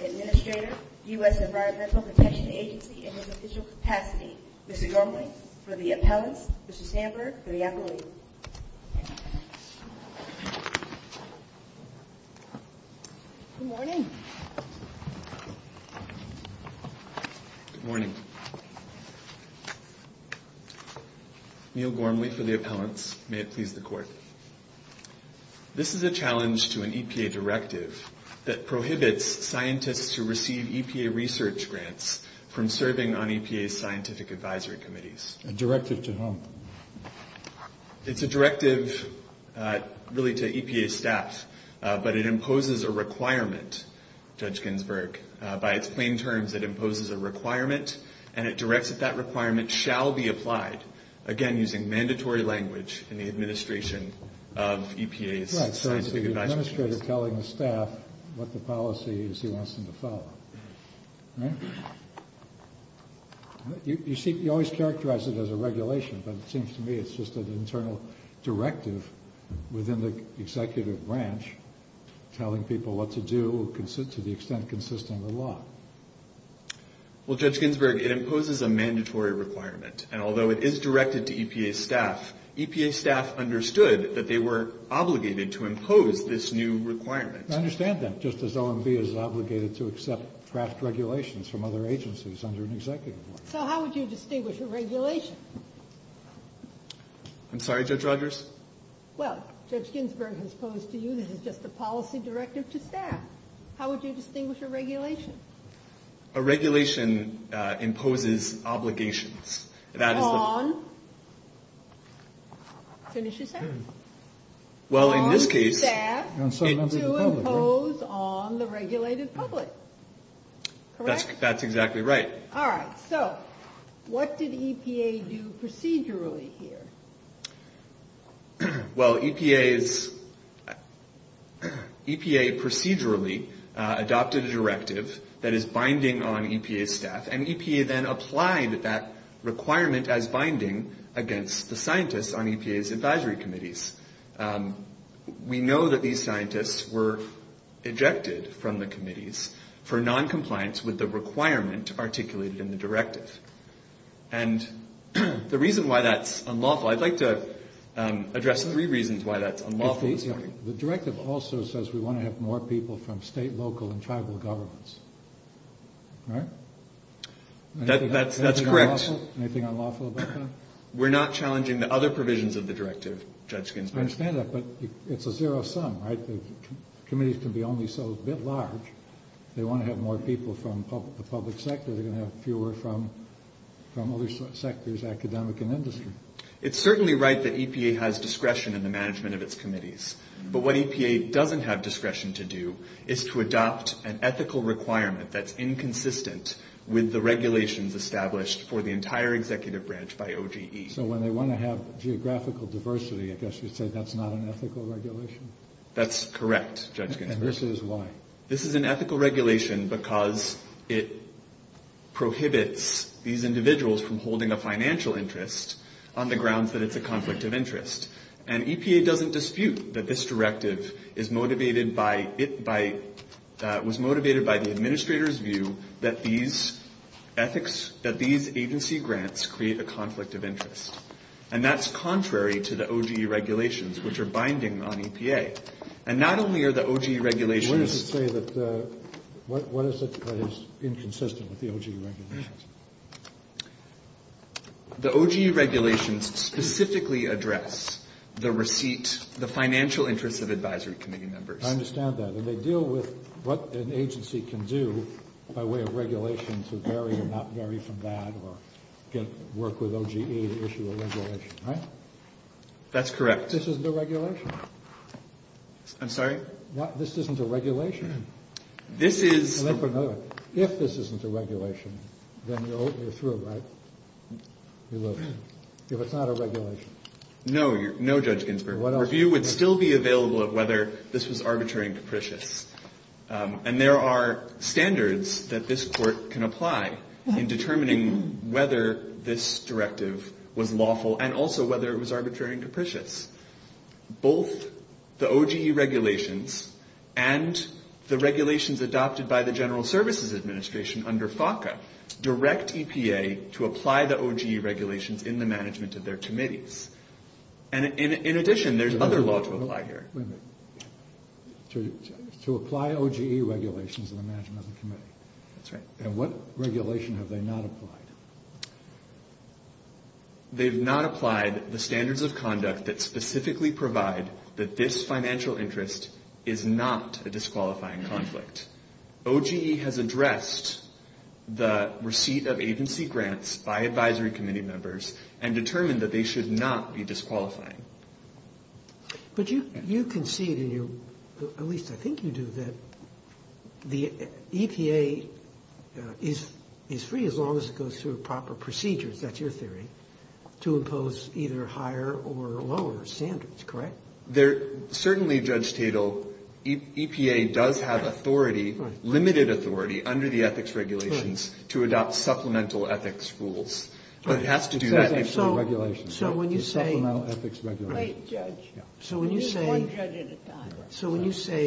Administrator, U.S. Environmental Protection Agency in his official capacity. Mr. Gormley for the appellants, Mr. Sandberg for the appellate. Good morning. Good morning. Neil Gormley for the appellants. May it please the court. This is a challenge to an EPA directive that prohibits scientists to receive EPA research grants from serving on EPA's scientific advisory committees. A directive to whom? It's a directive really to EPA staff, but it imposes a requirement, Judge Ginsburg. By its plain terms, it imposes a requirement, and it directs that that requirement shall be applied, again, using mandatory language in the administration of EPA's scientific advisory committees. It's the administrator telling the staff what the policy is he wants them to follow. You always characterize it as a regulation, but it seems to me it's just an internal directive within the executive branch telling people what to do, to the extent consistent with law. Well, Judge Ginsburg, it imposes a mandatory requirement, and although it is directed to EPA staff, EPA staff understood that they were obligated to impose this new requirement. I understand that, just as OMB is obligated to accept draft regulations from other agencies under an executive branch. So how would you distinguish a regulation? I'm sorry, Judge Rogers? Well, Judge Ginsburg has posed to you this is just a policy directive to staff. How would you distinguish a regulation? A regulation imposes obligations. On? Finish your sentence. Well, in this case... On staff to impose on the regulated public. Correct? That's exactly right. All right. So what did EPA do procedurally here? Well, EPA procedurally adopted a directive that is binding on EPA staff, and EPA then applied that requirement as binding against the scientists on EPA's advisory committees. We know that these scientists were ejected from the committees for noncompliance with the requirement articulated in the directive. And the reason why that's unlawful, I'd like to address three reasons why that's unlawful. The directive also says we want to have more people from state, local, and tribal governments. Right? That's correct. Anything unlawful about that? We're not challenging the other provisions of the directive, Judge Ginsburg. I understand that, but it's a zero sum, right? The committees can be only so a bit large. They want to have more people from the public sector. They're going to have fewer from other sectors, academic and industry. It's certainly right that EPA has discretion in the management of its committees, but what EPA doesn't have discretion to do is to adopt an ethical requirement that's inconsistent with the regulations established for the entire executive branch by OGE. So when they want to have geographical diversity, I guess you'd say that's not an ethical regulation? That's correct, Judge Ginsburg. And this is why? It's an ethical regulation because it prohibits these individuals from holding a financial interest on the grounds that it's a conflict of interest. And EPA doesn't dispute that this directive was motivated by the administrator's view that these agency grants create a conflict of interest. And that's contrary to the OGE regulations, which are binding on EPA. And not only are the OGE regulations... What does it say that is inconsistent with the OGE regulations? The OGE regulations specifically address the receipt, the financial interests of advisory committee members. I understand that. And they deal with what an agency can do by way of regulation to vary and not vary from that or work with OGE to issue a regulation, right? That's correct. This isn't a regulation. I'm sorry? This isn't a regulation. This is... If this isn't a regulation, then you're through, right? If it's not a regulation. No, Judge Ginsburg. The review would still be available of whether this was arbitrary and capricious. And there are standards that this Court can apply in determining whether this directive was lawful and also whether it was arbitrary and capricious. Both the OGE regulations and the regulations adopted by the General Services Administration under FACA direct EPA to apply the OGE regulations in the management of their committees. And in addition, there's other law to apply here. Wait a minute. To apply OGE regulations in the management of the committee? That's right. And what regulation have they not applied? They've not applied the standards of conduct that specifically provide that this financial interest is not a disqualifying conflict. OGE has addressed the receipt of agency grants by advisory committee members and determined that they should not be disqualifying. But you concede, at least I think you do, that the EPA is free as long as it goes through proper procedures, that's your theory, to impose either higher or lower standards, correct? Certainly, Judge Tatel, EPA does have authority, limited authority, under the ethics regulations to adopt supplemental ethics rules. But it has to do that under the regulations, the supplemental ethics regulations. Wait, Judge. So when you say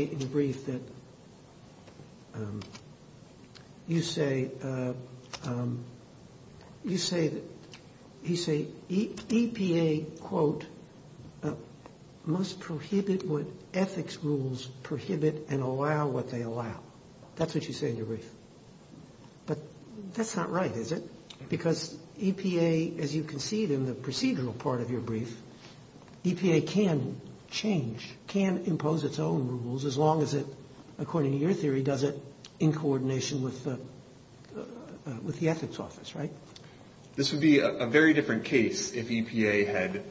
in the brief that you say EPA, quote, must prohibit what ethics rules prohibit and allow what they allow. That's what you say in your brief. But that's not right, is it? Because EPA, as you concede in the procedural part of your brief, EPA can change, can impose its own rules as long as it, according to your theory, does it in coordination with the ethics office, right? This would be a very different case if EPA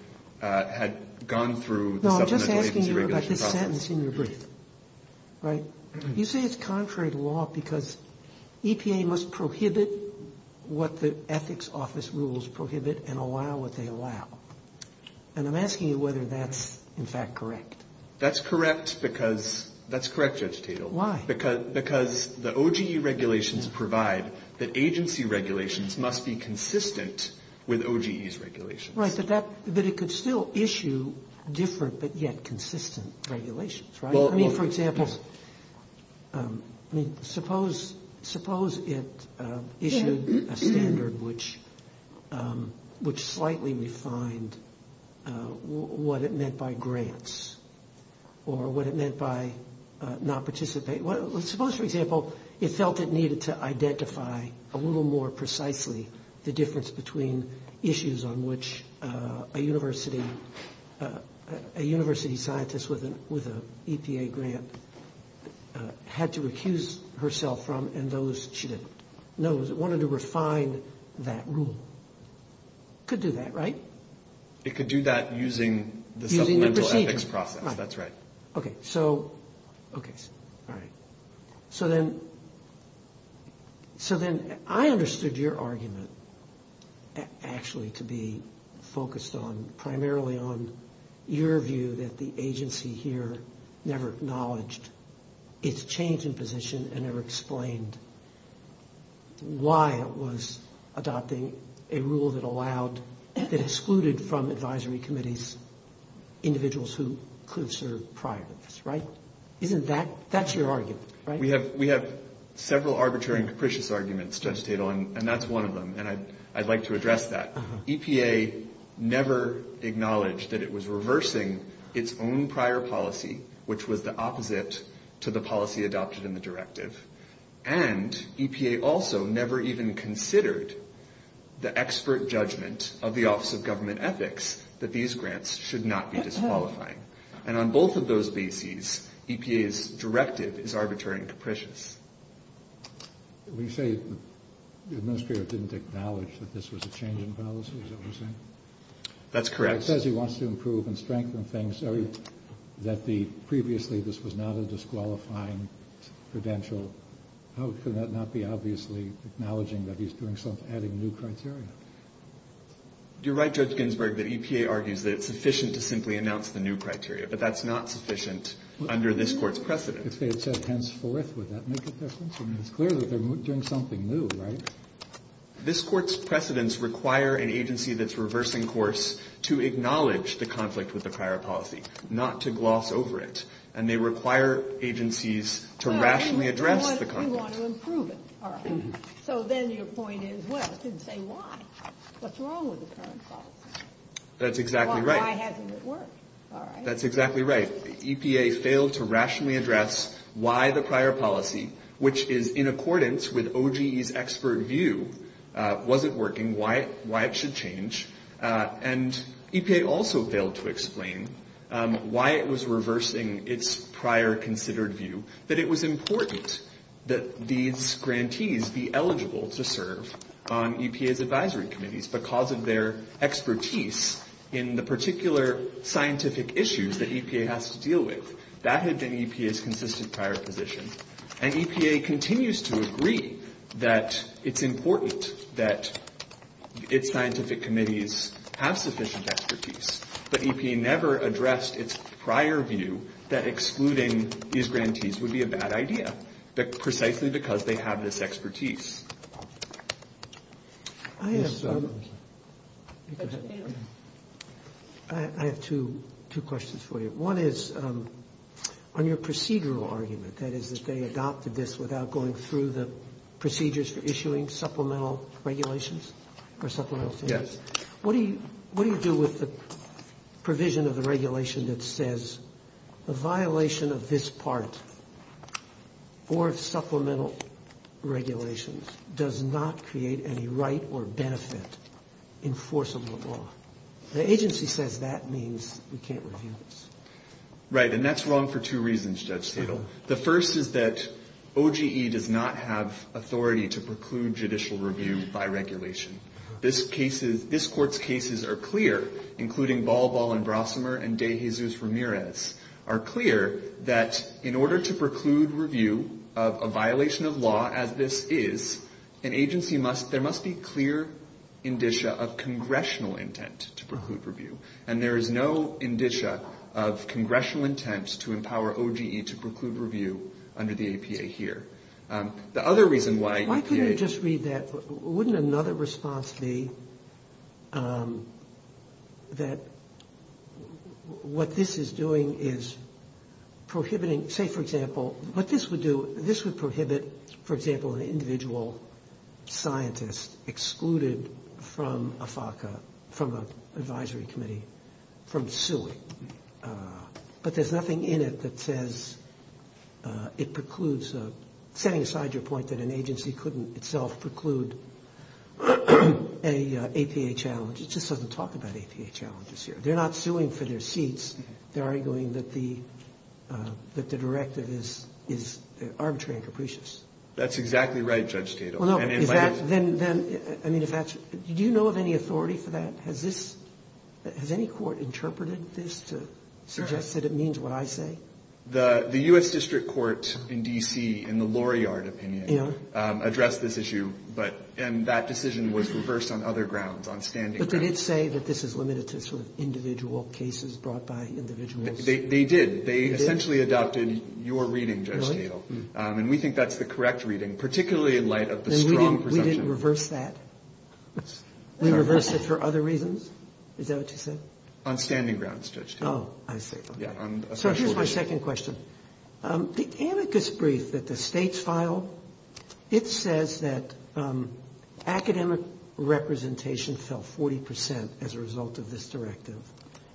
had gone through the supplemental agency regulation process. No, I'm just asking you about this sentence in your brief, right? You say it's contrary to law because EPA must prohibit what the ethics office rules prohibit and allow what they allow. And I'm asking you whether that's, in fact, correct. That's correct because, that's correct, Judge Tatel. Why? Because the OGE regulations provide that agency regulations must be consistent with OGE's regulations. Right, but that, but it could still issue different but yet consistent regulations, right? I mean, for example, suppose it issued a standard which slightly refined what it meant by grants or what it meant by not participate. Suppose, for example, it felt it needed to identify a little more precisely the difference between issues on which a university scientist with an EPA grant had to recuse herself from and those she didn't. No, it wanted to refine that rule. It could do that, right? It could do that using the supplemental ethics process. Using the procedure, right. That's right. Okay, so, okay, all right. So then, so then I understood your argument actually to be focused on primarily on your view that the agency here never acknowledged its change in position and never explained why it was adopting a rule that allowed, that excluded from advisory committees individuals who could have served prior to this, right? Isn't that, that's your argument, right? We have, we have several arbitrary and capricious arguments, Judge Tatel, and that's one of them and I'd like to address that. EPA never acknowledged that it was reversing its own prior policy, which was the opposite to the policy adopted in the directive. And EPA also never even considered the expert judgment of the Office of Government Ethics that these grants should not be disqualifying. And on both of those bases, EPA's directive is arbitrary and capricious. When you say the administrator didn't acknowledge that this was a change in policy, is that what you're saying? That's correct. It says he wants to improve and strengthen things. That the, previously this was not a disqualifying credential, how could that not be obviously acknowledging that he's doing something, adding new criteria? You're right, Judge Ginsburg, that EPA argues that it's sufficient to simply announce the new criteria, but that's not sufficient under this Court's precedent. If they had said henceforth, would that make a difference? I mean, it's clear that they're doing something new, right? This Court's precedents require an agency that's reversing course to acknowledge the conflict with the prior policy, not to gloss over it. And they require agencies to rationally address the conflict. So then your point is, well, it didn't say why. What's wrong with the current policy? That's exactly right. Why hasn't it worked? That's exactly right. EPA failed to rationally address why the prior policy, which is in accordance with OGE's expert view, wasn't working, why it should change. And EPA also failed to explain why it was reversing its prior considered view, that it was important that these grantees be eligible to serve on EPA's advisory committees. Because of their expertise in the particular scientific issues that EPA has to deal with. That had been EPA's consistent prior position. And EPA continues to agree that it's important that its scientific committees have sufficient expertise. But EPA never addressed its prior view that excluding these grantees would be a bad idea, precisely because they have this expertise. I have two questions for you. One is on your procedural argument, that is that they adopted this without going through the procedures for issuing supplemental regulations or supplemental standards. Yes. What do you do with the provision of the regulation that says the violation of this part or supplemental regulations does not create any right or benefit in force of the law? The agency says that means we can't review this. Right. And that's wrong for two reasons, Judge Stadel. The first is that OGE does not have authority to preclude judicial review by regulation. This Court's cases are clear, including Balbal and Brossimer and De Jesus Ramirez, are clear that in order to preclude review of a violation of law as this is, an agency must, there must be clear indicia of congressional intent to preclude review. And there is no indicia of congressional intent to empower OGE to preclude review under the EPA here. The other reason why EPA... Why couldn't you just read that? Wouldn't another response be that what this is doing is prohibiting, say, for example, what this would do, this would prohibit, for example, an individual scientist excluded from a FACA, from an advisory committee, from suing. But there's nothing in it that says it precludes. Setting aside your point that an agency couldn't itself preclude an EPA challenge, it just doesn't talk about EPA challenges here. They're not suing for their seats. They're arguing that the directive is arbitrary and capricious. That's exactly right, Judge Stadel. Well, no, is that, then, I mean, if that's, do you know of any authority for that? Has this, has any court interpreted this to suggest that it means what I say? The U.S. District Court in D.C. in the Laurillard opinion addressed this issue, but, and that decision was reversed on other grounds, on standing grounds. But they did say that this is limited to sort of individual cases brought by individuals. They did. They essentially adopted your reading, Judge Stadel. And we think that's the correct reading, particularly in light of the strong presumption. And we didn't reverse that? We reversed it for other reasons? Is that what you said? On standing grounds, Judge Stadel. Oh, I see. Yeah, on a special reason. So here's my second question. The amicus brief that the states filed, it says that academic representation fell 40 percent as a result of this directive,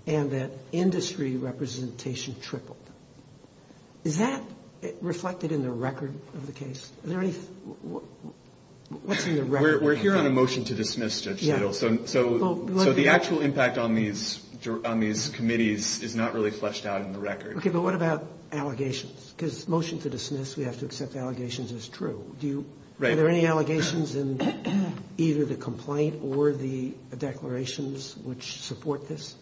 and that industry representation tripled. Is that reflected in the record of the case? Are there any, what's in the record? We're here on a motion to dismiss, Judge Stadel. Yeah. So the actual impact on these committees is not really fleshed out in the record. Okay, but what about allegations? Because motion to dismiss, we have to accept allegations as true. Right. Are there any allegations in either the complaint or the declarations which support this?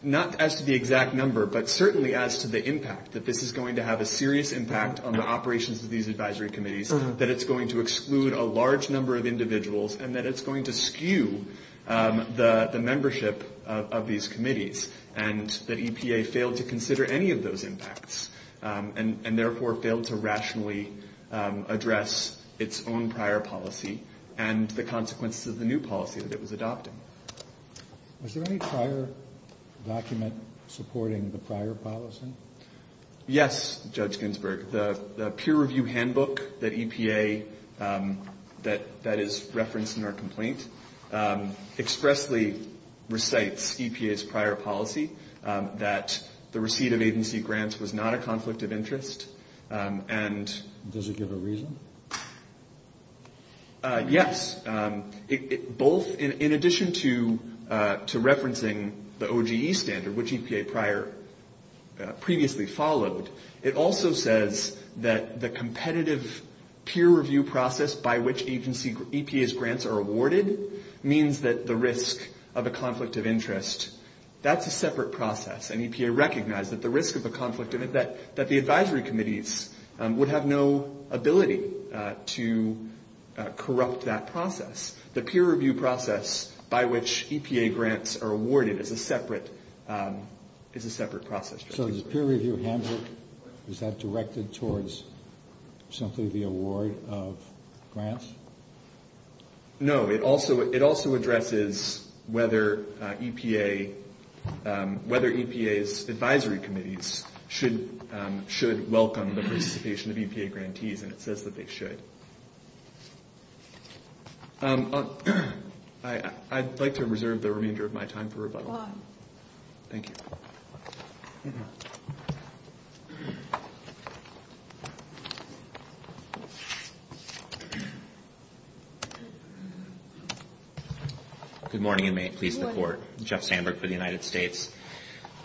Not as to the exact number, but certainly as to the impact, that this is going to have a serious impact on the operations of these advisory committees, that it's going to exclude a large number of individuals, and that it's going to skew the membership of these committees, and that EPA failed to consider any of those impacts, and therefore failed to rationally address its own prior policy and the consequences of the new policy that it was adopting. Was there any prior document supporting the prior policy? Yes, Judge Ginsburg. The peer review handbook that EPA, that is referenced in our complaint, expressly recites EPA's prior policy, that the receipt of agency grants was not a conflict of interest. Does it give a reason? Yes. In addition to referencing the OGE standard, which EPA previously followed, it also says that the competitive peer review process by which EPA's grants are awarded means that the risk of a conflict of interest, that's a separate process, and EPA recognized that the risk of a conflict of interest, that the advisory committees would have no ability to corrupt that process. The peer review process by which EPA grants are awarded is a separate process. So does the peer review handbook, is that directed towards simply the award of grants? No. It also addresses whether EPA's advisory committees should welcome the participation of EPA grantees, and it says that they should. I'd like to reserve the remainder of my time for rebuttal. Thank you. Good morning, and may it please the Court. Good morning. Jeff Sandberg for the United States.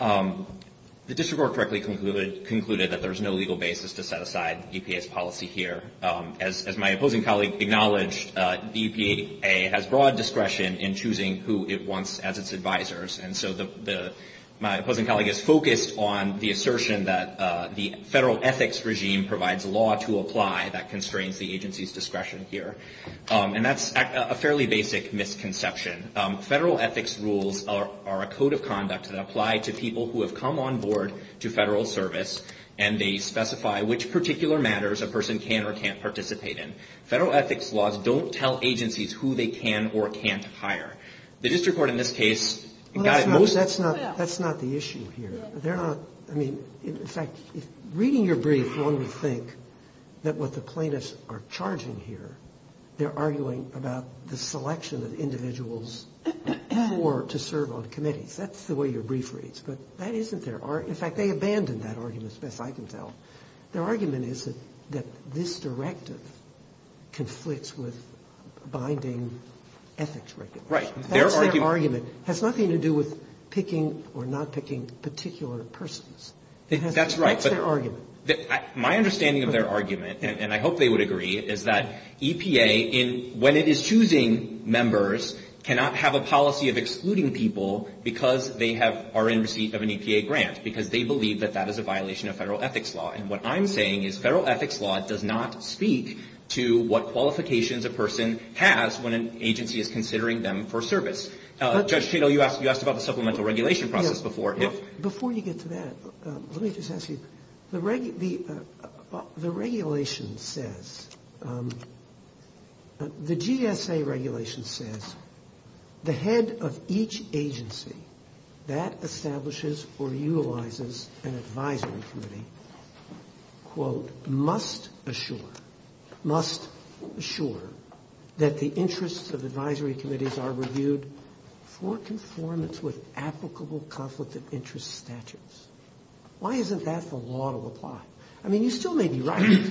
The district court correctly concluded that there is no legal basis to set aside EPA's policy here. As my opposing colleague acknowledged, the EPA has broad discretion in choosing who it wants as its advisors, and so my opposing colleague is focused on the assertion that the federal ethics regime provides a law to apply that constrains the agency's discretion here. And that's a fairly basic misconception. Federal ethics rules are a code of conduct that apply to people who have come on board to federal service, and they specify which particular matters a person can or can't participate in. Federal ethics laws don't tell agencies who they can or can't hire. The district court in this case got it most. Well, that's not the issue here. They're not. I mean, in fact, reading your brief, one would think that what the plaintiffs are charging here, they're arguing about the selection of individuals to serve on committees. That's the way your brief reads. But that isn't there. In fact, they abandoned that argument, as best I can tell. Their argument is that this directive conflicts with binding ethics regulations. Right. That's their argument. It has nothing to do with picking or not picking particular persons. That's right. That's their argument. My understanding of their argument, and I hope they would agree, is that EPA, when it is choosing members, cannot have a policy of excluding people because they are in receipt of an EPA grant, because they believe that that is a violation of federal ethics law. And what I'm saying is federal ethics law does not speak to what qualifications a person has when an agency is considering them for service. Judge Cato, you asked about the supplemental regulation process before. Before you get to that, let me just ask you. The regulation says, the GSA regulation says the head of each agency that establishes or utilizes an advisory committee, quote, must assure that the interests of advisory committees are reviewed for conformance with applicable conflict of interest statutes. Why isn't that the law to apply? I mean, you still may be right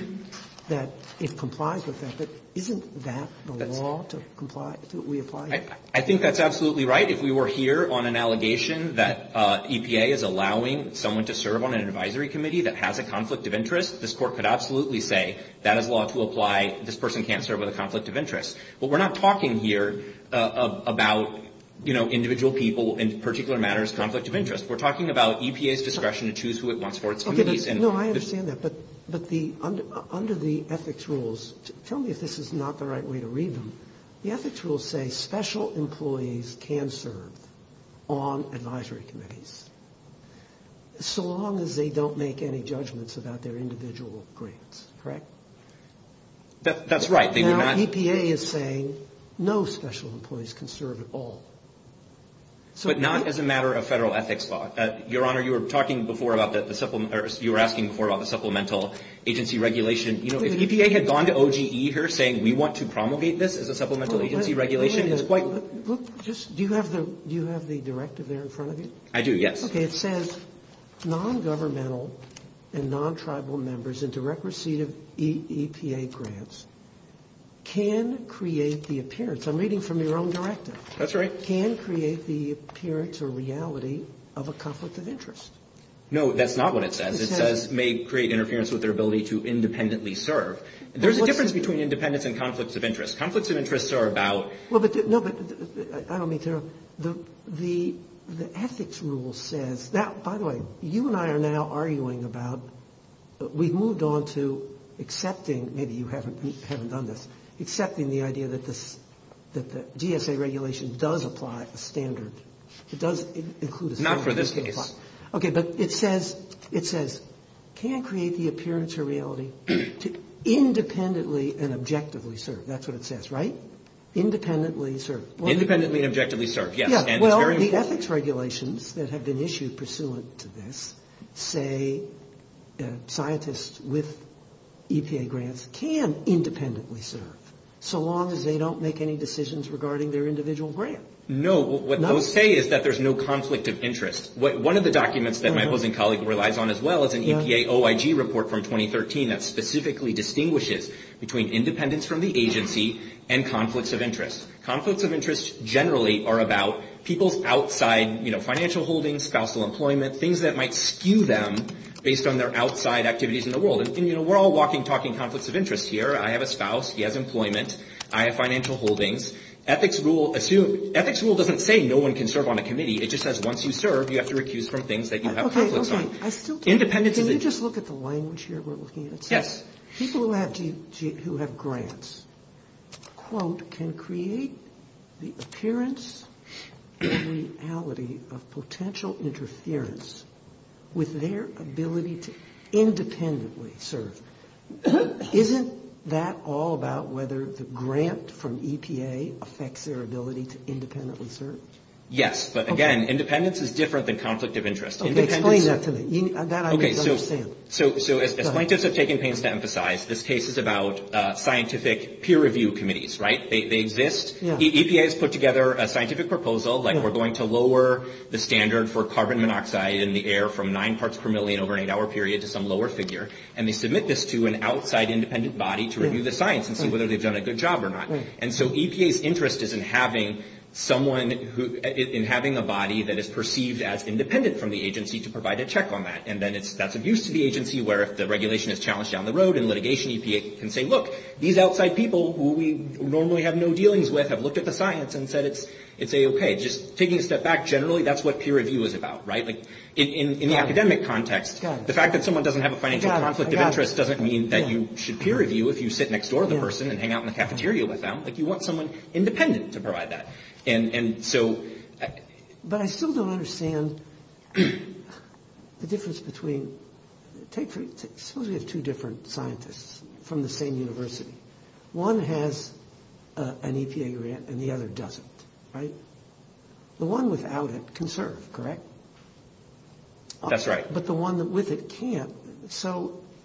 that it complies with that, but isn't that the law to comply, to reapply? I think that's absolutely right. If we were here on an allegation that EPA is allowing someone to serve on an advisory committee that has a conflict of interest, this Court could absolutely say that is law to apply, this person can't serve with a conflict of interest. But we're not talking here about, you know, individual people in particular matters' conflict of interest. We're talking about EPA's discretion to choose who it wants for its committees. No, I understand that. But under the ethics rules, tell me if this is not the right way to read them. The ethics rules say special employees can serve on advisory committees so long as they don't make any judgments about their individual grants, correct? That's right. Now EPA is saying no special employees can serve at all. But not as a matter of Federal ethics law. Your Honor, you were talking before about the supplemental agency regulation. You know, if EPA had gone to OGE here saying we want to promulgate this as a supplemental agency regulation, it's quite... Do you have the directive there in front of you? I do, yes. Okay. It says non-governmental and non-tribal members in direct receipt of EPA grants can create the appearance. I'm reading from your own directive. That's right. That can create the appearance or reality of a conflict of interest. No, that's not what it says. It says may create interference with their ability to independently serve. There's a difference between independence and conflicts of interest. Conflicts of interest are about... No, but I don't mean to... The ethics rule says... Now, by the way, you and I are now arguing about... We've moved on to accepting... Maybe you haven't done this. Accepting the idea that the GSA regulation does apply a standard. It does include a standard. Not for this case. Okay, but it says can create the appearance or reality to independently and objectively serve. That's what it says, right? Independently serve. Independently and objectively serve, yes. Well, the ethics regulations that have been issued pursuant to this say scientists with EPA grants can independently serve, so long as they don't make any decisions regarding their individual grant. No, what those say is that there's no conflict of interest. One of the documents that my opposing colleague relies on as well is an EPA OIG report from 2013 that specifically distinguishes between independence from the agency and conflicts of interest. Conflicts of interest generally are about people's outside financial holdings, spousal employment, things that might skew them based on their outside activities in the world. And we're all walking, talking conflicts of interest here. I have a spouse. He has employment. I have financial holdings. Ethics rule doesn't say no one can serve on a committee. It just says once you serve, you have to recuse from things that you have conflicts on. Okay, okay. Independence is... Can you just look at the language here we're looking at? Yes. People who have grants, quote, can create the appearance and reality of potential interference with their ability to independently serve. Isn't that all about whether the grant from EPA affects their ability to independently serve? Yes, but again, independence is different than conflict of interest. Explain that to me. That I may understand. So as plaintiffs have taken pains to emphasize, this case is about scientific peer review committees, right? They exist. EPA has put together a scientific proposal, like we're going to lower the standard for carbon monoxide in the air from nine parts per million over an eight-hour period to some lower figure. And they submit this to an outside independent body to review the science and see whether they've done a good job or not. And so EPA's interest is in having a body that is perceived as independent from the agency to provide a check on that. And then that's of use to the agency, where if the regulation is challenged down the road and litigation, EPA can say, look, these outside people who we normally have no dealings with have looked at the science and said it's A-OK. Just taking a step back, generally, that's what peer review is about, right? In the academic context, the fact that someone doesn't have a financial conflict of interest doesn't mean that you should peer review if you sit next door to the person and hang out in the cafeteria with them. You want someone independent to provide that. But I still don't understand the difference between – suppose we have two different scientists from the same university. One has an EPA grant and the other doesn't, right? The one without it can serve, correct? That's right. But the one with it can't.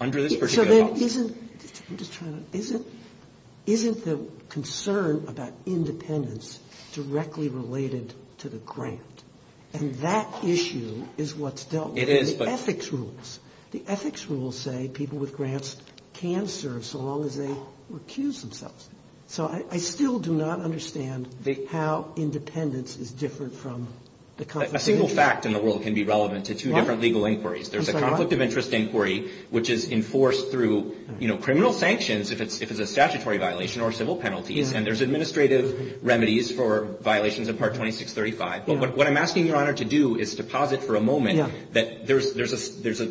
Under this particular policy. Isn't the concern about independence directly related to the grant? And that issue is what's dealt with in the ethics rules. The ethics rules say people with grants can serve so long as they recuse themselves. So I still do not understand how independence is different from the conflict of interest. A single fact in the world can be relevant to two different legal inquiries. There's a conflict of interest inquiry, which is enforced through criminal sanctions if it's a statutory violation or civil penalties. And there's administrative remedies for violations of Part 2635. But what I'm asking Your Honor to do is deposit for a moment that there's a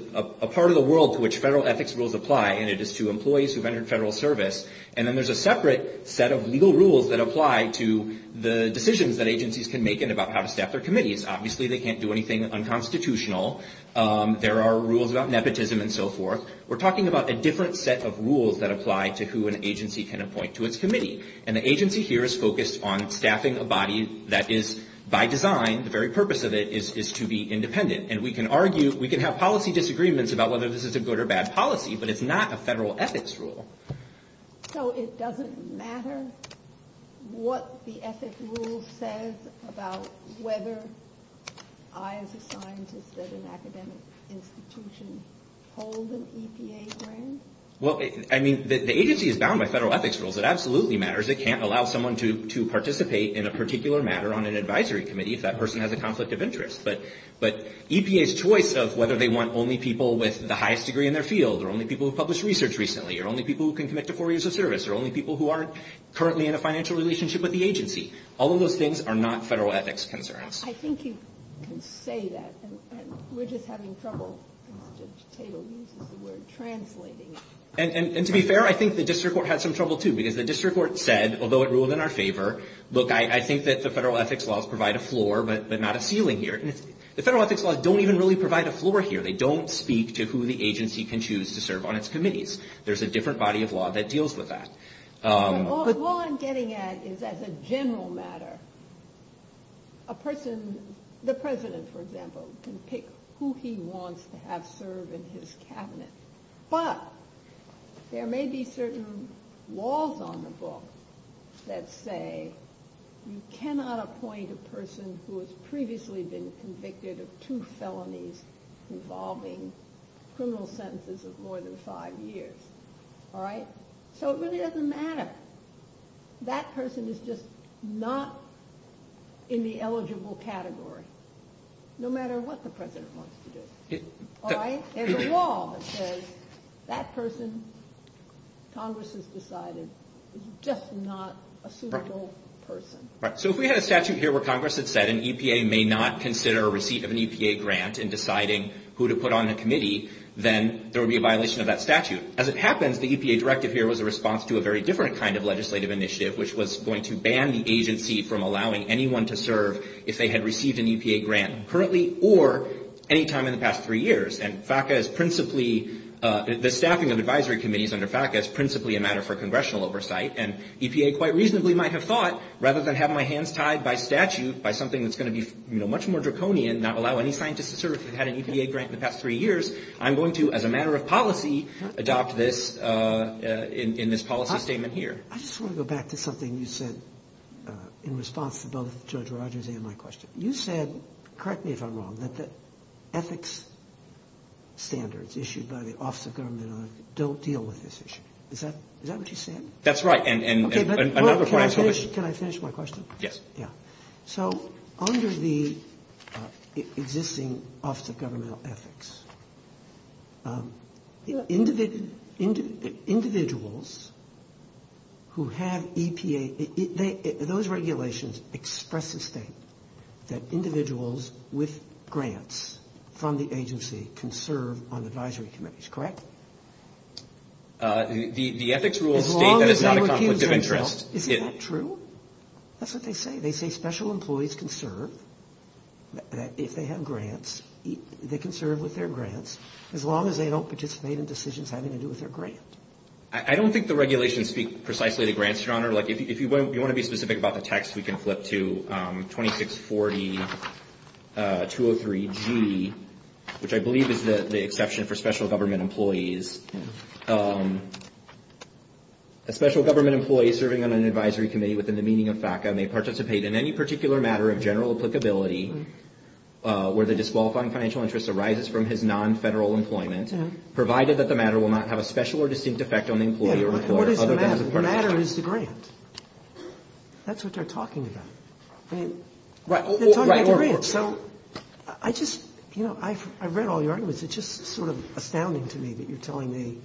part of the world to which federal ethics rules apply, and it is to employees who have entered federal service. And then there's a separate set of legal rules that apply to the decisions that agencies can make and about how to staff their committees. Obviously, they can't do anything unconstitutional. There are rules about nepotism and so forth. We're talking about a different set of rules that apply to who an agency can appoint to its committee. And the agency here is focused on staffing a body that is, by design, the very purpose of it is to be independent. And we can argue, we can have policy disagreements about whether this is a good or bad policy, but it's not a federal ethics rule. So it doesn't matter what the ethics rule says about whether I, as a scientist at an academic institution, hold an EPA grant? Well, I mean, the agency is bound by federal ethics rules. It absolutely matters. It can't allow someone to participate in a particular matter on an advisory committee if that person has a conflict of interest. But EPA's choice of whether they want only people with the highest degree in their field or only people who have published research recently or only people who can commit to four years of service or only people who aren't currently in a financial relationship with the agency, all of those things are not federal ethics concerns. I think you can say that, and we're just having trouble. The table uses the word translating. And to be fair, I think the district court had some trouble, too, because the district court said, although it ruled in our favor, look, I think that the federal ethics laws provide a floor but not a ceiling here. The federal ethics laws don't even really provide a floor here. They don't speak to who the agency can choose to serve on its committees. There's a different body of law that deals with that. But all I'm getting at is as a general matter, a person, the president, for example, can pick who he wants to have serve in his cabinet. But there may be certain laws on the book that say you cannot appoint a person who has previously been convicted of two felonies involving criminal sentences of more than five years. All right? So it really doesn't matter. That person is just not in the eligible category, no matter what the president wants to do. All right? There's a law that says that person, Congress has decided, is just not a suitable person. All right. So if we had a statute here where Congress had said an EPA may not consider a receipt of an EPA grant in deciding who to put on the committee, then there would be a violation of that statute. As it happens, the EPA directive here was a response to a very different kind of legislative initiative, which was going to ban the agency from allowing anyone to serve if they had received an EPA grant currently or any time in the past three years. And FACA is principally, the staffing of advisory committees under FACA is principally a matter for congressional oversight. And EPA quite reasonably might have thought, rather than have my hands tied by statute by something that's going to be much more draconian, not allow any scientist to serve if they've had an EPA grant in the past three years, I'm going to, as a matter of policy, adopt this in this policy statement here. I just want to go back to something you said in response to both Judge Rogers and my question. You said, correct me if I'm wrong, that the ethics standards issued by the Office of Government don't deal with this issue. Is that what you said? That's right. Can I finish my question? Yes. So under the existing Office of Governmental Ethics, individuals who have EPA, those regulations express the state that individuals with grants from the agency can serve on advisory committees. Correct? The ethics rules state that it's not a conflict of interest. Is that true? That's what they say. They say special employees can serve if they have grants. They can serve with their grants as long as they don't participate in decisions having to do with their grant. I don't think the regulations speak precisely to grants, Your Honor. If you want to be specific about the text, we can flip to 2640-203-G, which I believe is the exception for special government employees. A special government employee serving on an advisory committee within the meaning of FACA may participate in any particular matter of general applicability where the disqualifying financial interest arises from his non-federal employment, provided that the matter will not have a special or distinct effect on the employee or employer. What is the matter? The matter is the grant. That's what they're talking about. They're talking about the grant. So I just, you know, I've read all your arguments. It's just sort of astounding to me that you're telling me.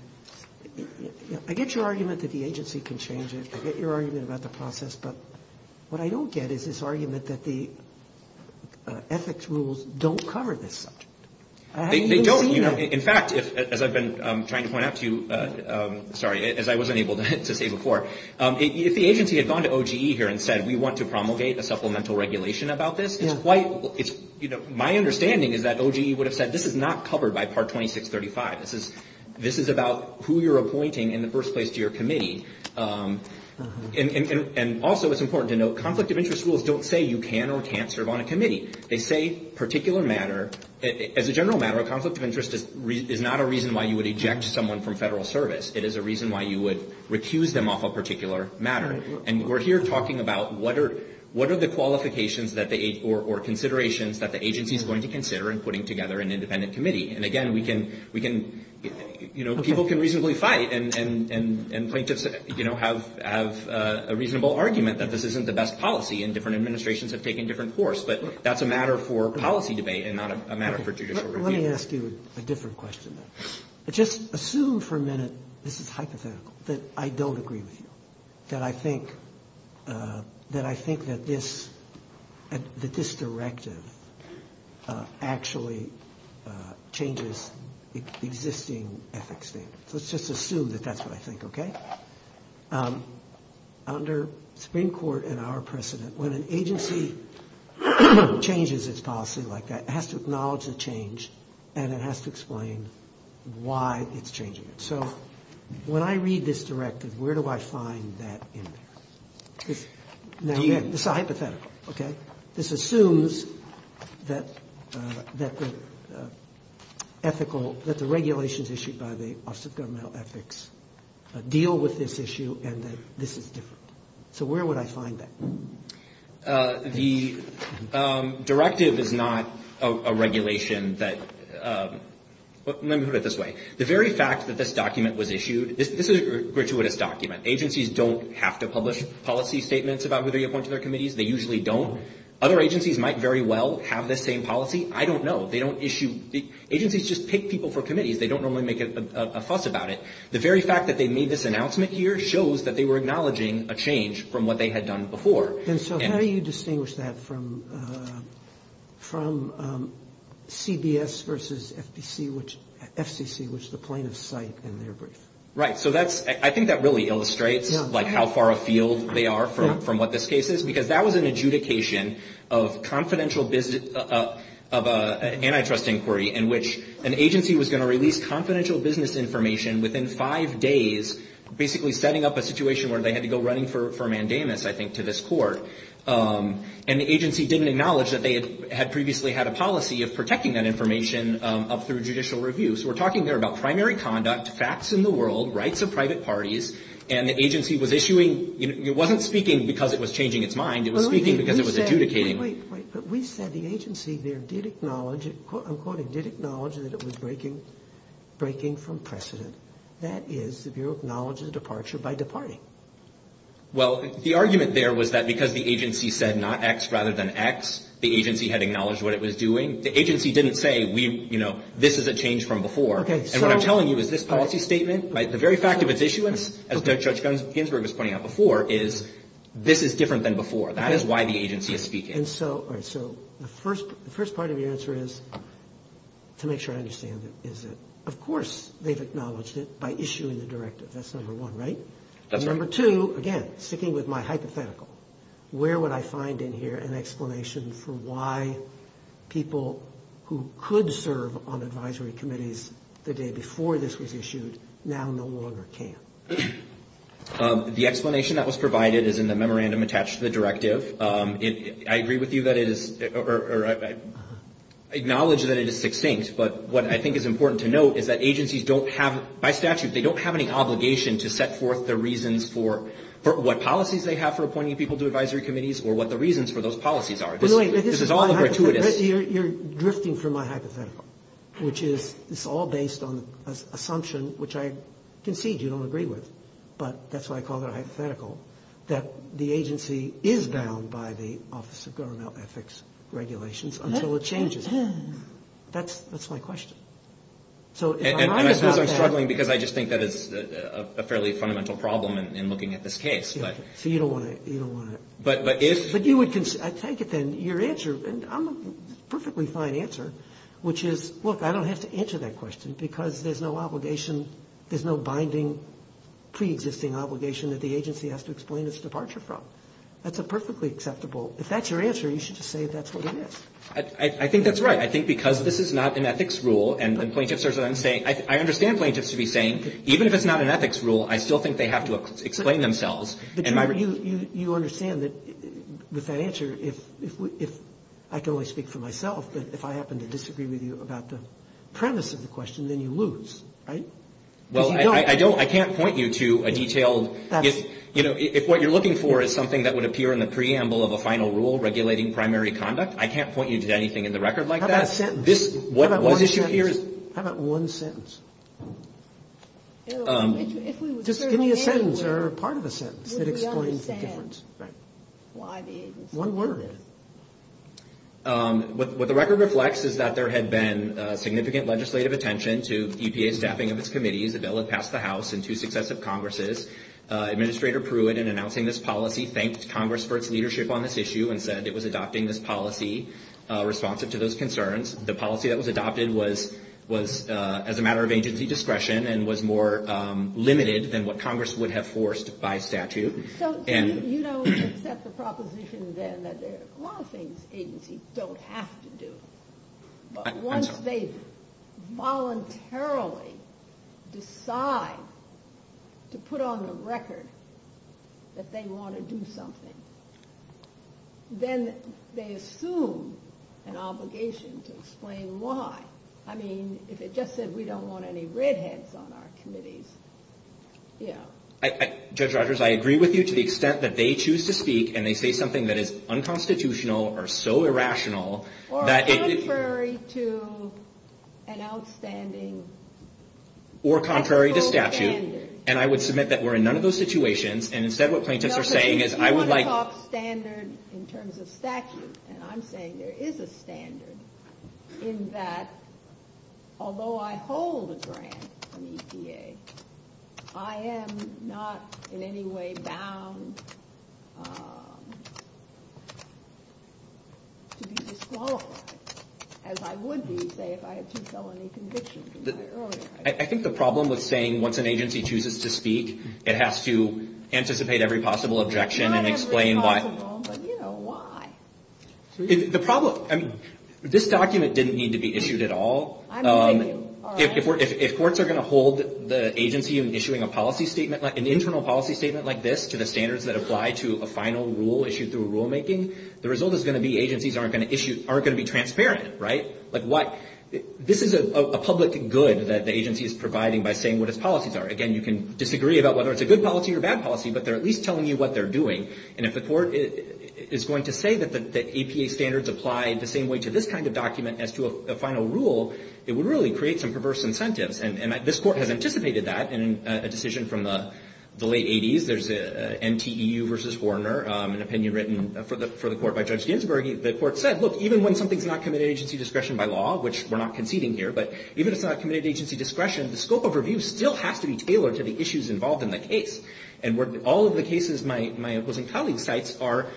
I get your argument that the agency can change it. I get your argument about the process. But what I don't get is this argument that the ethics rules don't cover this subject. They don't. In fact, as I've been trying to point out to you, sorry, as I wasn't able to say before, if the agency had gone to OGE here and said, we want to promulgate a supplemental regulation about this, it's quite, you know, my understanding is that OGE would have said, this is not covered by Part 2635. This is about who you're appointing in the first place to your committee. And also it's important to note, conflict of interest rules don't say you can or can't serve on a committee. They say particular matter, as a general matter, a conflict of interest is not a reason why you would eject someone from federal service. It is a reason why you would recuse them off a particular matter. And we're here talking about what are the qualifications or considerations that the agency is going to consider in putting together an independent committee. And, again, we can, you know, people can reasonably fight. And plaintiffs, you know, have a reasonable argument that this isn't the best policy and different administrations have taken different course. But that's a matter for policy debate and not a matter for judicial review. Let me ask you a different question. Just assume for a minute, this is hypothetical, that I don't agree with you, that I think that this directive actually changes existing ethics standards. Let's just assume that that's what I think, okay? Under Supreme Court and our precedent, when an agency changes its policy like that, it has to acknowledge the change and it has to explain why it's changing it. So when I read this directive, where do I find that in there? Now, again, this is hypothetical, okay? This assumes that the ethical, that the regulations issued by the Office of Governmental Ethics deal with this issue and that this is different. So where would I find that? The directive is not a regulation that – let me put it this way. The very fact that this document was issued – this is a gratuitous document. Agencies don't have to publish policy statements about who they appoint to their committees. They usually don't. Other agencies might very well have this same policy. I don't know. They don't issue – agencies just pick people for committees. They don't normally make a fuss about it. The very fact that they made this announcement here shows that they were acknowledging a change from what they had done before. And so how do you distinguish that from CBS versus FCC, which the plaintiffs cite in their brief? Right. So that's – I think that really illustrates, like, how far afield they are from what this case is because that was an adjudication of confidential – of an antitrust inquiry in which an agency was going to release confidential business information within five days, basically setting up a situation where they had to go running for mandamus, I think, to this court. And the agency didn't acknowledge that they had previously had a policy of protecting that information up through judicial review. So we're talking there about primary conduct, facts in the world, rights of private parties, and the agency was issuing – it wasn't speaking because it was changing its mind. It was speaking because it was adjudicating. Wait, wait, wait. We said the agency there did acknowledge – I'm quoting – did acknowledge that it was breaking from precedent. That is, the Bureau acknowledges departure by departing. Well, the argument there was that because the agency said not X rather than X, the agency had acknowledged what it was doing. The agency didn't say, you know, this is a change from before. And what I'm telling you is this policy statement, the very fact of its issuance, as Judge Ginsburg was pointing out before, is this is different than before. That is why the agency is speaking. And so – all right. So the first part of your answer is, to make sure I understand it, is that, of course, they've acknowledged it by issuing the directive. That's number one, right? That's right. And number two, again, sticking with my hypothetical, where would I find in here an explanation for why people who could serve on advisory committees the day before this was issued now no longer can? The explanation that was provided is in the memorandum attached to the directive. I agree with you that it is – or I acknowledge that it is succinct, but what I think is important to note is that agencies don't have – by statute, they don't have any obligation to set forth the reasons for – what policies they have for appointing people to advisory committees or what the reasons for those policies are. This is all gratuitous. You're drifting from my hypothetical, which is it's all based on assumption, which I concede you don't agree with, but that's why I call it a hypothetical, that the agency is bound by the Office of Government Ethics regulations until it changes. That's my question. And I suppose I'm struggling because I just think that is a fairly fundamental problem in looking at this case. So you don't want to – but you would – I take it then your answer, and I'm a perfectly fine answer, which is, look, I don't have to answer that question because there's no obligation – there's no binding preexisting obligation that the agency has to explain its departure from. That's a perfectly acceptable – if that's your answer, you should just say that's what it is. I think that's right. I think because this is not an ethics rule and plaintiffs are then saying – I understand plaintiffs to be saying, even if it's not an ethics rule, I still think they have to explain themselves. But you understand that with that answer, if – I can only speak for myself, but if I happen to disagree with you about the premise of the question, then you lose, right? Well, I don't – I can't point you to a detailed – if what you're looking for is something that would appear in the preamble of a final rule regulating primary conduct, I can't point you to anything in the record like that. How about sentence? How about one sentence? Just give me a sentence or part of a sentence that explains the difference. One word. What the record reflects is that there had been significant legislative attention to EPA staffing of its committees. A bill had passed the House in two successive Congresses. Administrator Pruitt, in announcing this policy, thanked Congress for its leadership on this issue and said it was adopting this policy responsive to those concerns. The policy that was adopted was as a matter of agency discretion and was more limited than what Congress would have forced by statute. So you don't accept the proposition then that there are a lot of things agencies don't have to do. But once they voluntarily decide to put on the record that they want to do something, then they assume an obligation to explain why. I mean, if it just said we don't want any redheads on our committees, yeah. Judge Rogers, I agree with you to the extent that they choose to speak and they say something that is unconstitutional or so irrational that it... Or contrary to an outstanding... Or contrary to statute, and I would submit that we're in none of those situations, and instead what plaintiffs are saying is I would like... No, but if you want to talk standard in terms of statute, and I'm saying there is a standard in that although I hold a grant from EPA, I am not in any way bound to be disqualified, as I would be, say, if I had two felony convictions in my early life. I think the problem with saying once an agency chooses to speak, it has to anticipate every possible objection and explain why... Not every possible, but, you know, why? The problem... This document didn't need to be issued at all. I'm thinking... If courts are going to hold the agency in issuing an internal policy statement like this to the standards that apply to a final rule issued through rulemaking, the result is going to be agencies aren't going to be transparent, right? Like what... This is a public good that the agency is providing by saying what its policies are. Again, you can disagree about whether it's a good policy or a bad policy, but they're at least telling you what they're doing. And if the court is going to say that EPA standards apply the same way to this kind of document as to a final rule, it would really create some perverse incentives. And this court has anticipated that in a decision from the late 80s. There's an NTEU v. Horner, an opinion written for the court by Judge Ginsburg. The court said, look, even when something's not committed to agency discretion by law, which we're not conceding here, but even if it's not committed to agency discretion, the scope of review still has to be tailored to the issues involved in the case. And all of the cases my opposing colleague cites are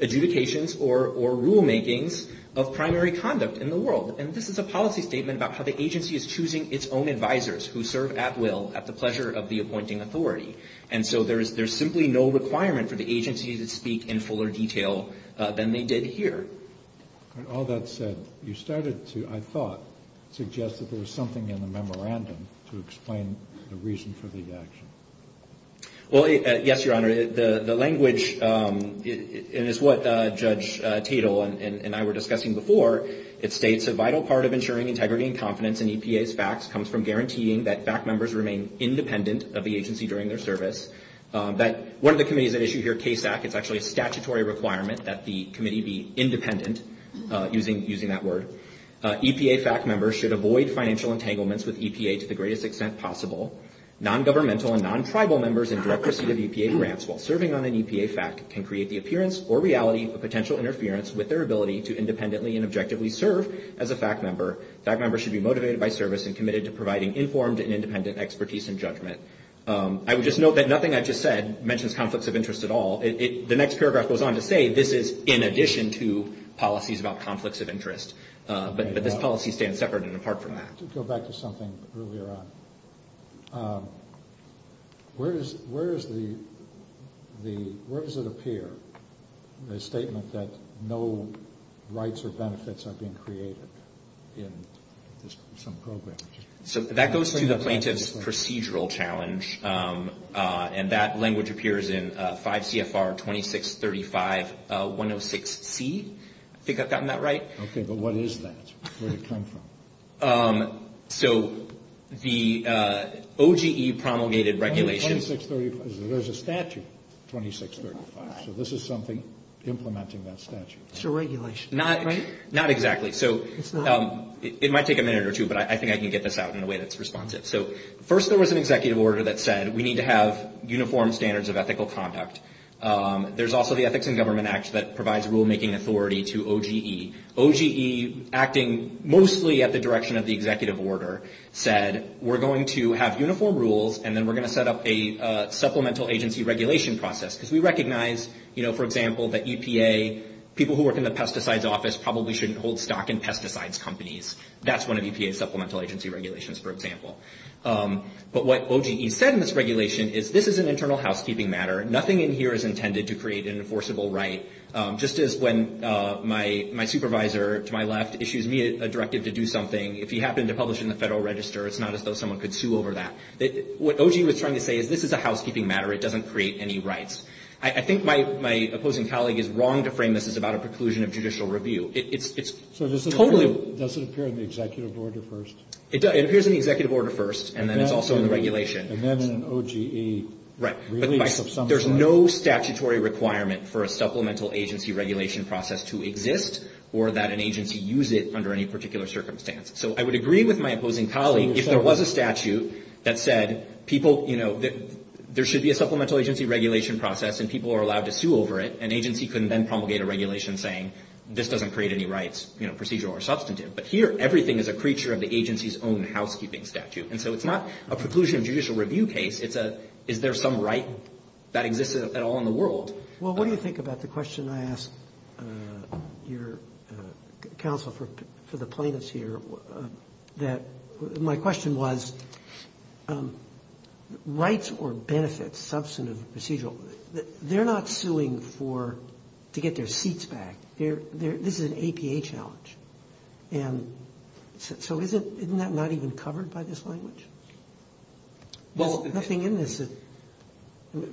adjudications or rulemakings of primary conduct in the world. And this is a policy statement about how the agency is choosing its own advisors who serve at will at the pleasure of the appointing authority. And so there's simply no requirement for the agency to speak in fuller detail than they did here. All that said, you started to, I thought, suggest that there was something in the memorandum to explain the reason for the action. Well, yes, Your Honor. The language is what Judge Tatel and I were discussing before. It states, a vital part of ensuring integrity and confidence in EPA's facts comes from guaranteeing that fact members remain independent of the agency during their service. One of the committees that issue here, CASAC, it's actually a statutory requirement that the committee be independent, using that word. EPA fact members should avoid financial entanglements with EPA to the greatest extent possible. Non-governmental and non-tribal members in direct receipt of EPA grants while serving on an EPA fact can create the appearance or reality of potential interference with their ability to independently and objectively serve as a fact member. Fact members should be motivated by service and committed to providing informed and independent expertise and judgment. I would just note that nothing I just said mentions conflicts of interest at all. The next paragraph goes on to say this is in addition to policies about conflicts of interest. But this policy stands separate and apart from that. Let's go back to something earlier on. Where does it appear, the statement that no rights or benefits are being created in some program? So that goes to the plaintiff's procedural challenge. And that language appears in 5 CFR 2635-106C. I think I've gotten that right. Okay, but what is that? Where did it come from? So the OGE promulgated regulations. There's a statute, 2635. So this is something implementing that statute. It's a regulation, right? Not exactly. It might take a minute or two, but I think I can get this out in a way that's responsive. So first there was an executive order that said we need to have uniform standards of ethical conduct. There's also the Ethics in Government Act that provides rulemaking authority to OGE. OGE, acting mostly at the direction of the executive order, said we're going to have uniform rules, and then we're going to set up a supplemental agency regulation process. Because we recognize, you know, for example, that EPA, people who work in the pesticides office, probably shouldn't hold stock in pesticides companies. That's one of EPA's supplemental agency regulations, for example. But what OGE said in this regulation is this is an internal housekeeping matter. Nothing in here is intended to create an enforceable right. Just as when my supervisor to my left issues me a directive to do something, if you happen to publish it in the Federal Register, it's not as though someone could sue over that. What OGE was trying to say is this is a housekeeping matter. It doesn't create any rights. I think my opposing colleague is wrong to frame this as about a preclusion of judicial review. It's totally. So does it appear in the executive order first? It appears in the executive order first, and then it's also in the regulation. And then in an OGE release of some sort. Right. But there's no statutory requirement for a supplemental agency regulation process to exist or that an agency use it under any particular circumstance. So I would agree with my opposing colleague if there was a statute that said people, you know, there should be a supplemental agency regulation process and people are allowed to sue over it, an agency couldn't then promulgate a regulation saying this doesn't create any rights, you know, procedural or substantive. But here everything is a creature of the agency's own housekeeping statute. And so it's not a preclusion of judicial review case. It's a is there some right that exists at all in the world. Well, what do you think about the question I asked your counsel for the plaintiffs here? That my question was rights or benefits substantive procedural. They're not suing for to get their seats back here. This is an APA challenge. And so isn't that not even covered by this language? Well, nothing in this.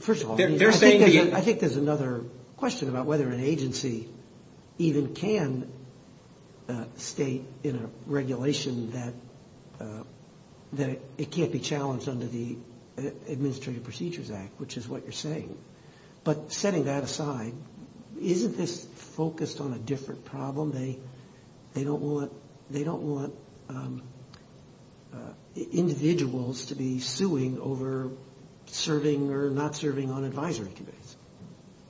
First of all, I think there's another question about whether an agency even can state in a regulation that it can't be challenged under the Administrative Procedures Act, which is what you're saying. But setting that aside, isn't this focused on a different problem? They they don't want they don't want individuals to be suing over serving or not serving on advisory committees.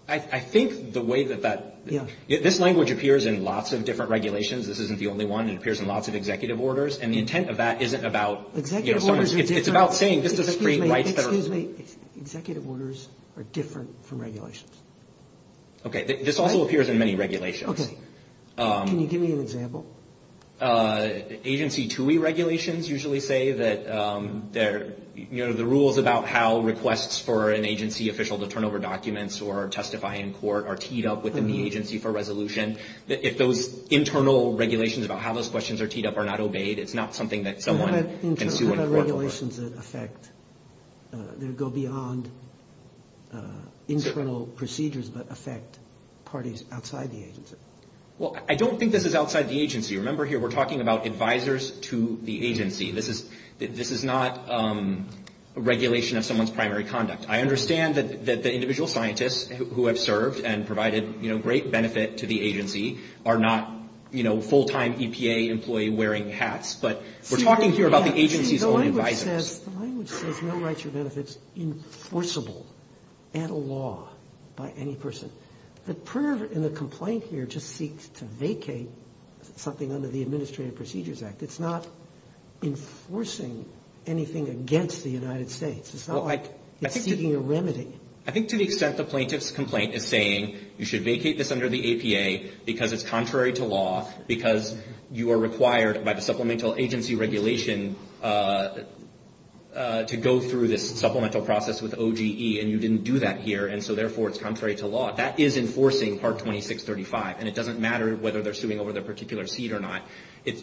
I think the way that that this language appears in lots of different regulations. This isn't the only one. It appears in lots of executive orders. And the intent of that isn't about executive. It's about saying this is free rights. Executive orders are different from regulations. This also appears in many regulations. Can you give me an example? Agency to regulations usually say that they're the rules about how requests for an agency official to turn over documents or testify in court are teed up within the agency for resolution. If those internal regulations about how those questions are teed up are not obeyed, it's not something that someone can sue in court for. What about regulations that affect, that go beyond internal procedures but affect parties outside the agency? Well, I don't think this is outside the agency. Remember here we're talking about advisers to the agency. This is this is not a regulation of someone's primary conduct. I understand that the individual scientists who have served and provided great benefit to the agency are not, you know, full-time EPA employee wearing hats. But we're talking here about the agency's own advisers. The language says no rights or benefits enforceable at law by any person. The prayer and the complaint here just seeks to vacate something under the Administrative Procedures Act. It's not enforcing anything against the United States. It's not like it's seeking a remedy. I think to the extent the plaintiff's complaint is saying you should vacate this under the APA because it's contrary to law, because you are required by the Supplemental Agency Regulation to go through this supplemental process with OGE and you didn't do that here, and so therefore it's contrary to law, that is enforcing Part 2635. And it doesn't matter whether they're suing over their particular seat or not.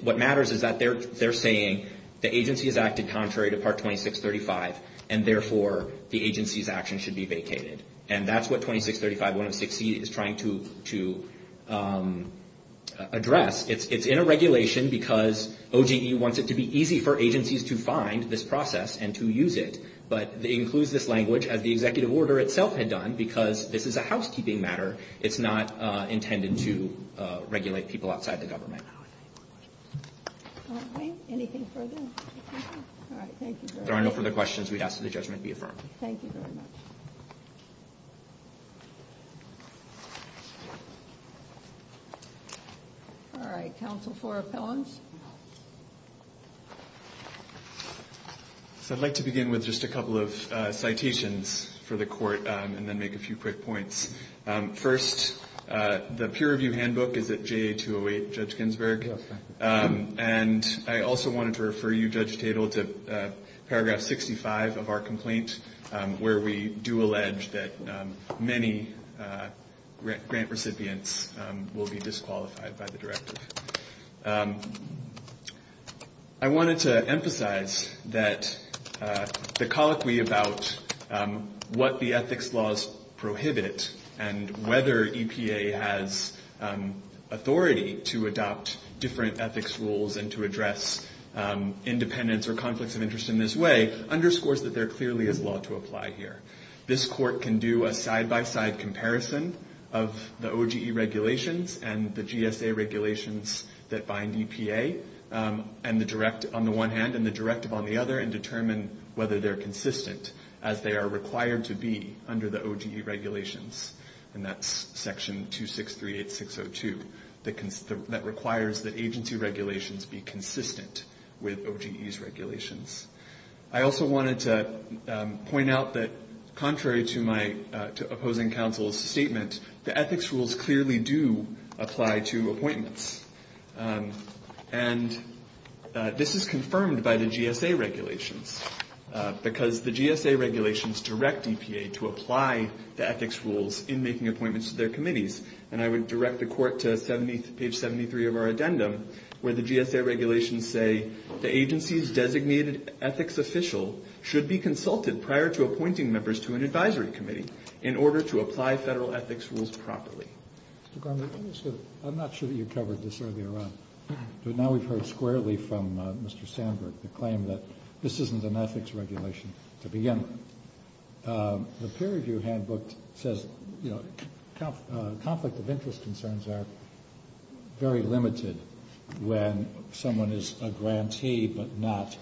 What matters is that they're saying the agency has acted contrary to Part 2635, and therefore the agency's action should be vacated. And that's what 2635.106c is trying to address. It's in a regulation because OGE wants it to be easy for agencies to find this process and to use it. But it includes this language, as the executive order itself had done, because this is a housekeeping matter. It's not intended to regulate people outside the government. All right. Anything further? All right. Thank you very much. If there are no further questions, we ask that the judgment be affirmed. Thank you very much. All right. Counsel for appellants. So I'd like to begin with just a couple of citations for the court and then make a few quick points. First, the peer review handbook is at JA208, Judge Ginsburg. And I also wanted to refer you, Judge Tatel, to paragraph 65 of our complaint, where we do allege that many grant recipients will be disqualified by the directive. I wanted to emphasize that the colloquy about what the ethics laws prohibit and whether EPA has authority to adopt different ethics rules and to address independence or conflicts of interest in this way underscores that there clearly is law to apply here. This court can do a side-by-side comparison of the OGE regulations and the GSA regulations that bind EPA on the one hand and the directive on the other and determine whether they're consistent as they are required to be under the OGE regulations. And that's section 2638602 that requires that agency regulations be consistent with OGE's regulations. I also wanted to point out that contrary to my opposing counsel's statement, the ethics rules clearly do apply to appointments. And this is confirmed by the GSA regulations, because the GSA regulations direct EPA to apply the ethics rules in making appointments to their committees. And I would direct the court to page 73 of our addendum, where the GSA regulations say, the agency's designated ethics official should be consulted prior to appointing members to an advisory committee in order to apply federal ethics rules properly. Mr. Gromlich, I'm not sure that you covered this earlier on, but now we've heard squarely from Mr. Sandberg the claim that this isn't an ethics regulation to begin with. The peer review handbook says, you know, conflict of interest concerns are very limited when someone is a grantee, but not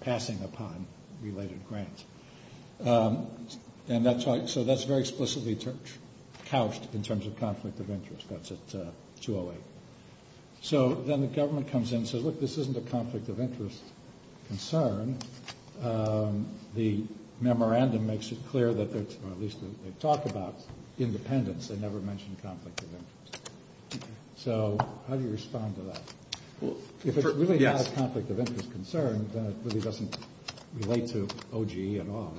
passing upon related grants. And that's right. So that's very explicitly couched in terms of conflict of interest. That's at 208. So then the government comes in and says, look, this isn't a conflict of interest concern. The memorandum makes it clear that they talk about independence. They never mention conflict of interest. So how do you respond to that? If it's really not a conflict of interest concern, then it really doesn't relate to OGE at all.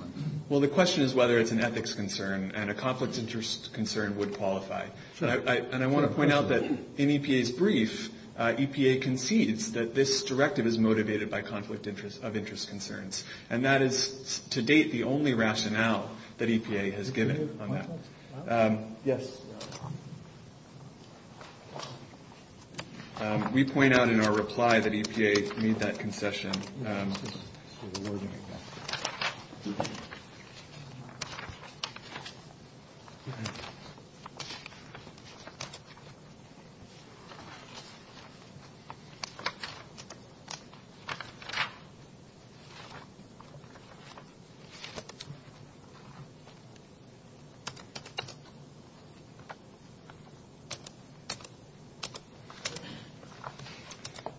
Well, the question is whether it's an ethics concern, and a conflict of interest concern would qualify. And I want to point out that in EPA's brief, EPA concedes that this directive is motivated by conflict of interest concerns, and that is to date the only rationale that EPA has given on that. Yes. We point out in our reply that EPA made that concession.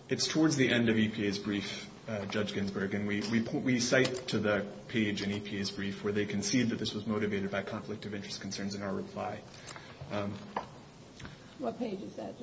It's towards the end of EPA's brief, Judge Ginsburg, and we cite to the page in EPA's brief where they concede that this was motivated by conflict of interest concerns in our reply. What page is that?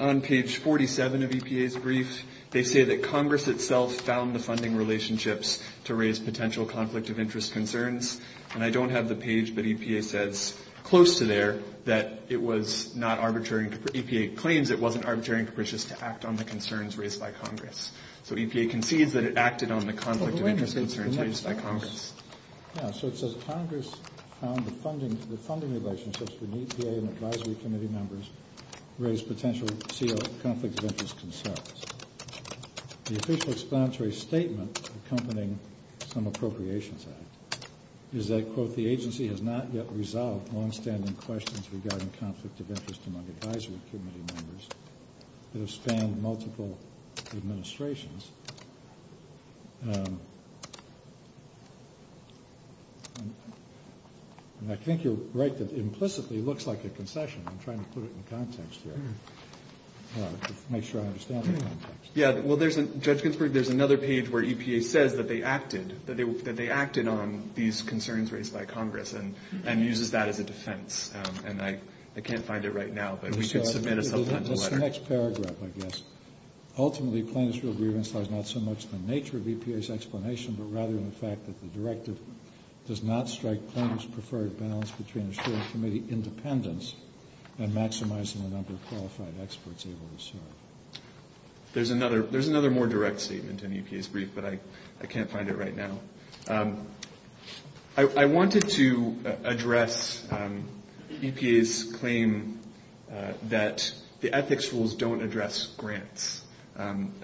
On page 47 of EPA's brief, they say that Congress itself found the funding relationships to raise potential conflict of interest concerns, and I don't have the page, but EPA says close to there that it was not arbitrary and capricious to act on the concerns raised by Congress. So EPA concedes that it acted on the conflict of interest concerns raised by Congress. Yeah, so it says Congress found the funding relationships between EPA and advisory committee members raised potential CO conflict of interest concerns. The official explanatory statement accompanying some appropriations act is that, quote, the agency has not yet resolved longstanding questions regarding conflict of interest among advisory committee members that have spanned multiple administrations. And I think you're right that implicitly it looks like a concession. I'm trying to put it in context here to make sure I understand the context. Yeah, well, Judge Ginsburg, there's another page where EPA says that they acted, that they acted on these concerns raised by Congress, and uses that as a defense. And I can't find it right now, but we could submit a supplemental letter. Let's go to the next paragraph, I guess. Ultimately, plaintiff's real grievance lies not so much in the nature of EPA's explanation, but rather in the fact that the directive does not strike plaintiff's preferred balance between assuring committee independence and maximizing the number of qualified experts able to serve. There's another more direct statement in EPA's brief, but I can't find it right now. I wanted to address EPA's claim that the ethics rules don't address grants,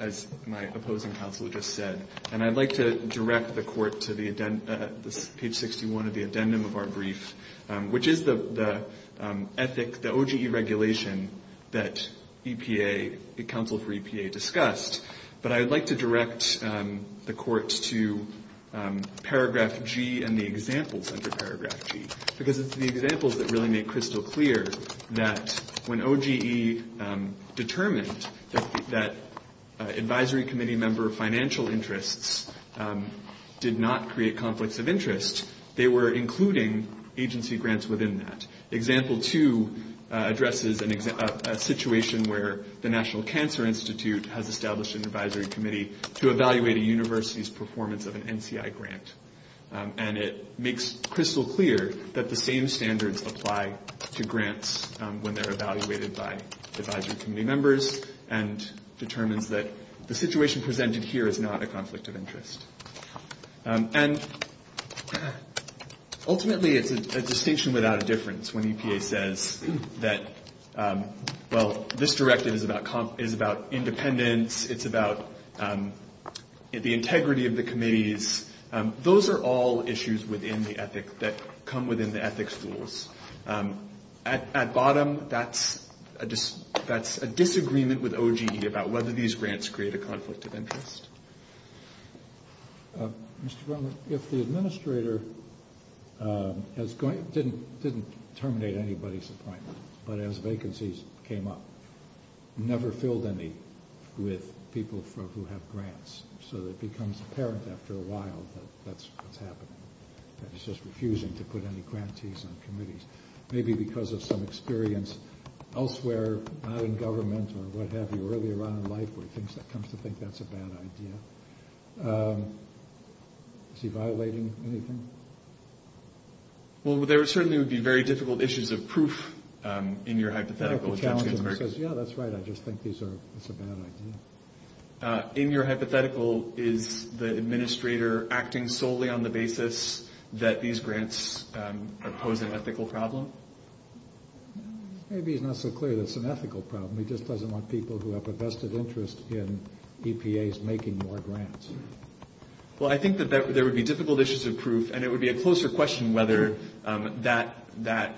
as my opposing counsel just said, and I'd like to direct the court to the page 61 of the addendum of our brief, which is the OGE regulation that EPA, the counsel for EPA discussed. But I would like to direct the court to paragraph G and the examples under paragraph G, because it's the examples that really make crystal clear that when OGE determined that advisory committee member financial interests did not create conflicts of interest, they were including agency grants within that. Example two addresses a situation where the National Cancer Institute has established an advisory committee to evaluate a university's performance of an NCI grant. And it makes crystal clear that the same standards apply to grants when they're evaluated by advisory committee members, and determines that the situation presented here is not a conflict of interest. And ultimately it's a distinction without a difference when EPA says that, well, this directive is about independence, it's about the integrity of the committees. Those are all issues within the ethics that come within the ethics rules. At bottom, that's a disagreement with OGE about whether these grants create a conflict of interest. Mr. Brunman, if the administrator didn't terminate anybody's appointment, but as vacancies came up, never filled any with people who have grants, so it becomes apparent after a while that that's what's happening, that he's just refusing to put any grantees on committees. Maybe because of some experience elsewhere, not in government or what have you, earlier on in life where he comes to think that's a bad idea. Is he violating anything? Well, there certainly would be very difficult issues of proof in your hypothetical. Yeah, that's right, I just think it's a bad idea. In your hypothetical, is the administrator acting solely on the basis that these grants pose an ethical problem? Maybe he's not so clear that it's an ethical problem. He just doesn't want people who have a vested interest in EPAs making more grants. Well, I think that there would be difficult issues of proof, and it would be a closer question whether that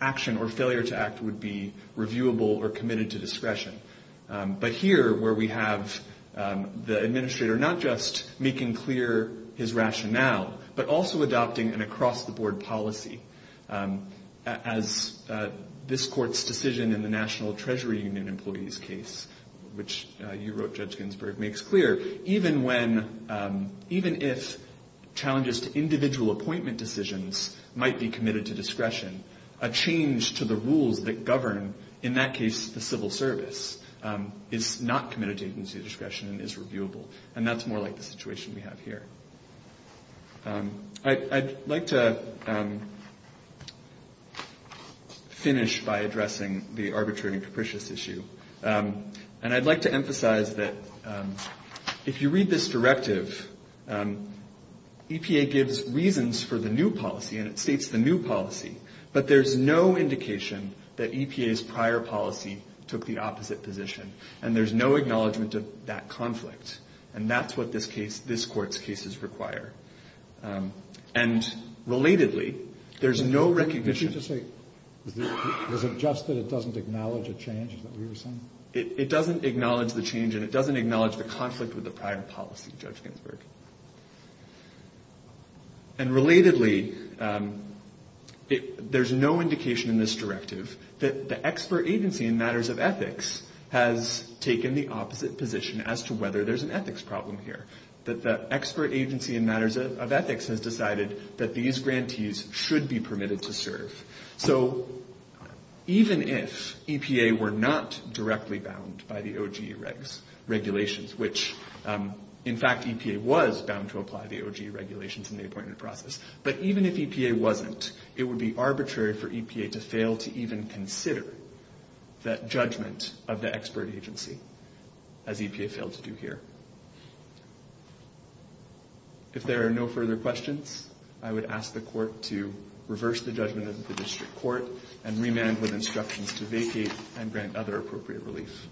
action or failure to act would be reviewable or committed to discretion. But here, where we have the administrator not just making clear his rationale, but also adopting an across-the-board policy, as this Court's decision in the National Treasury Union employee's case, which you wrote, Judge Ginsburg, makes clear, even if challenges to individual appointment decisions might be committed to discretion, a change to the rules that govern, in that case the civil service, is not committed to discretion and is reviewable. And that's more like the situation we have here. I'd like to finish by addressing the arbitrary and capricious issue. And I'd like to emphasize that if you read this directive, EPA gives reasons for the new policy, and it states the new policy, but there's no indication that EPA's prior policy took the opposite position, and there's no acknowledgment of that conflict. And that's what this Court's cases require. And relatedly, there's no recognition... It doesn't acknowledge the change, and it doesn't acknowledge the conflict with the prior policy, Judge Ginsburg. And relatedly, there's no indication in this directive that the expert agency in matters of ethics has taken the opposite position as to whether there's an ethics problem here, that the expert agency in matters of ethics has decided that these grantees should be permitted to serve. So even if EPA were not directly bound by the OGE regulations, which, in fact, EPA was bound to apply the OGE regulations in the appointment process, but even if EPA wasn't, it would be arbitrary for EPA to fail to even consider that judgment of the expert agency, as EPA failed to do here. If there are no further questions, I would ask the Court to reverse the judgment of the District Court and remand with instructions to vacate and grant other appropriate relief.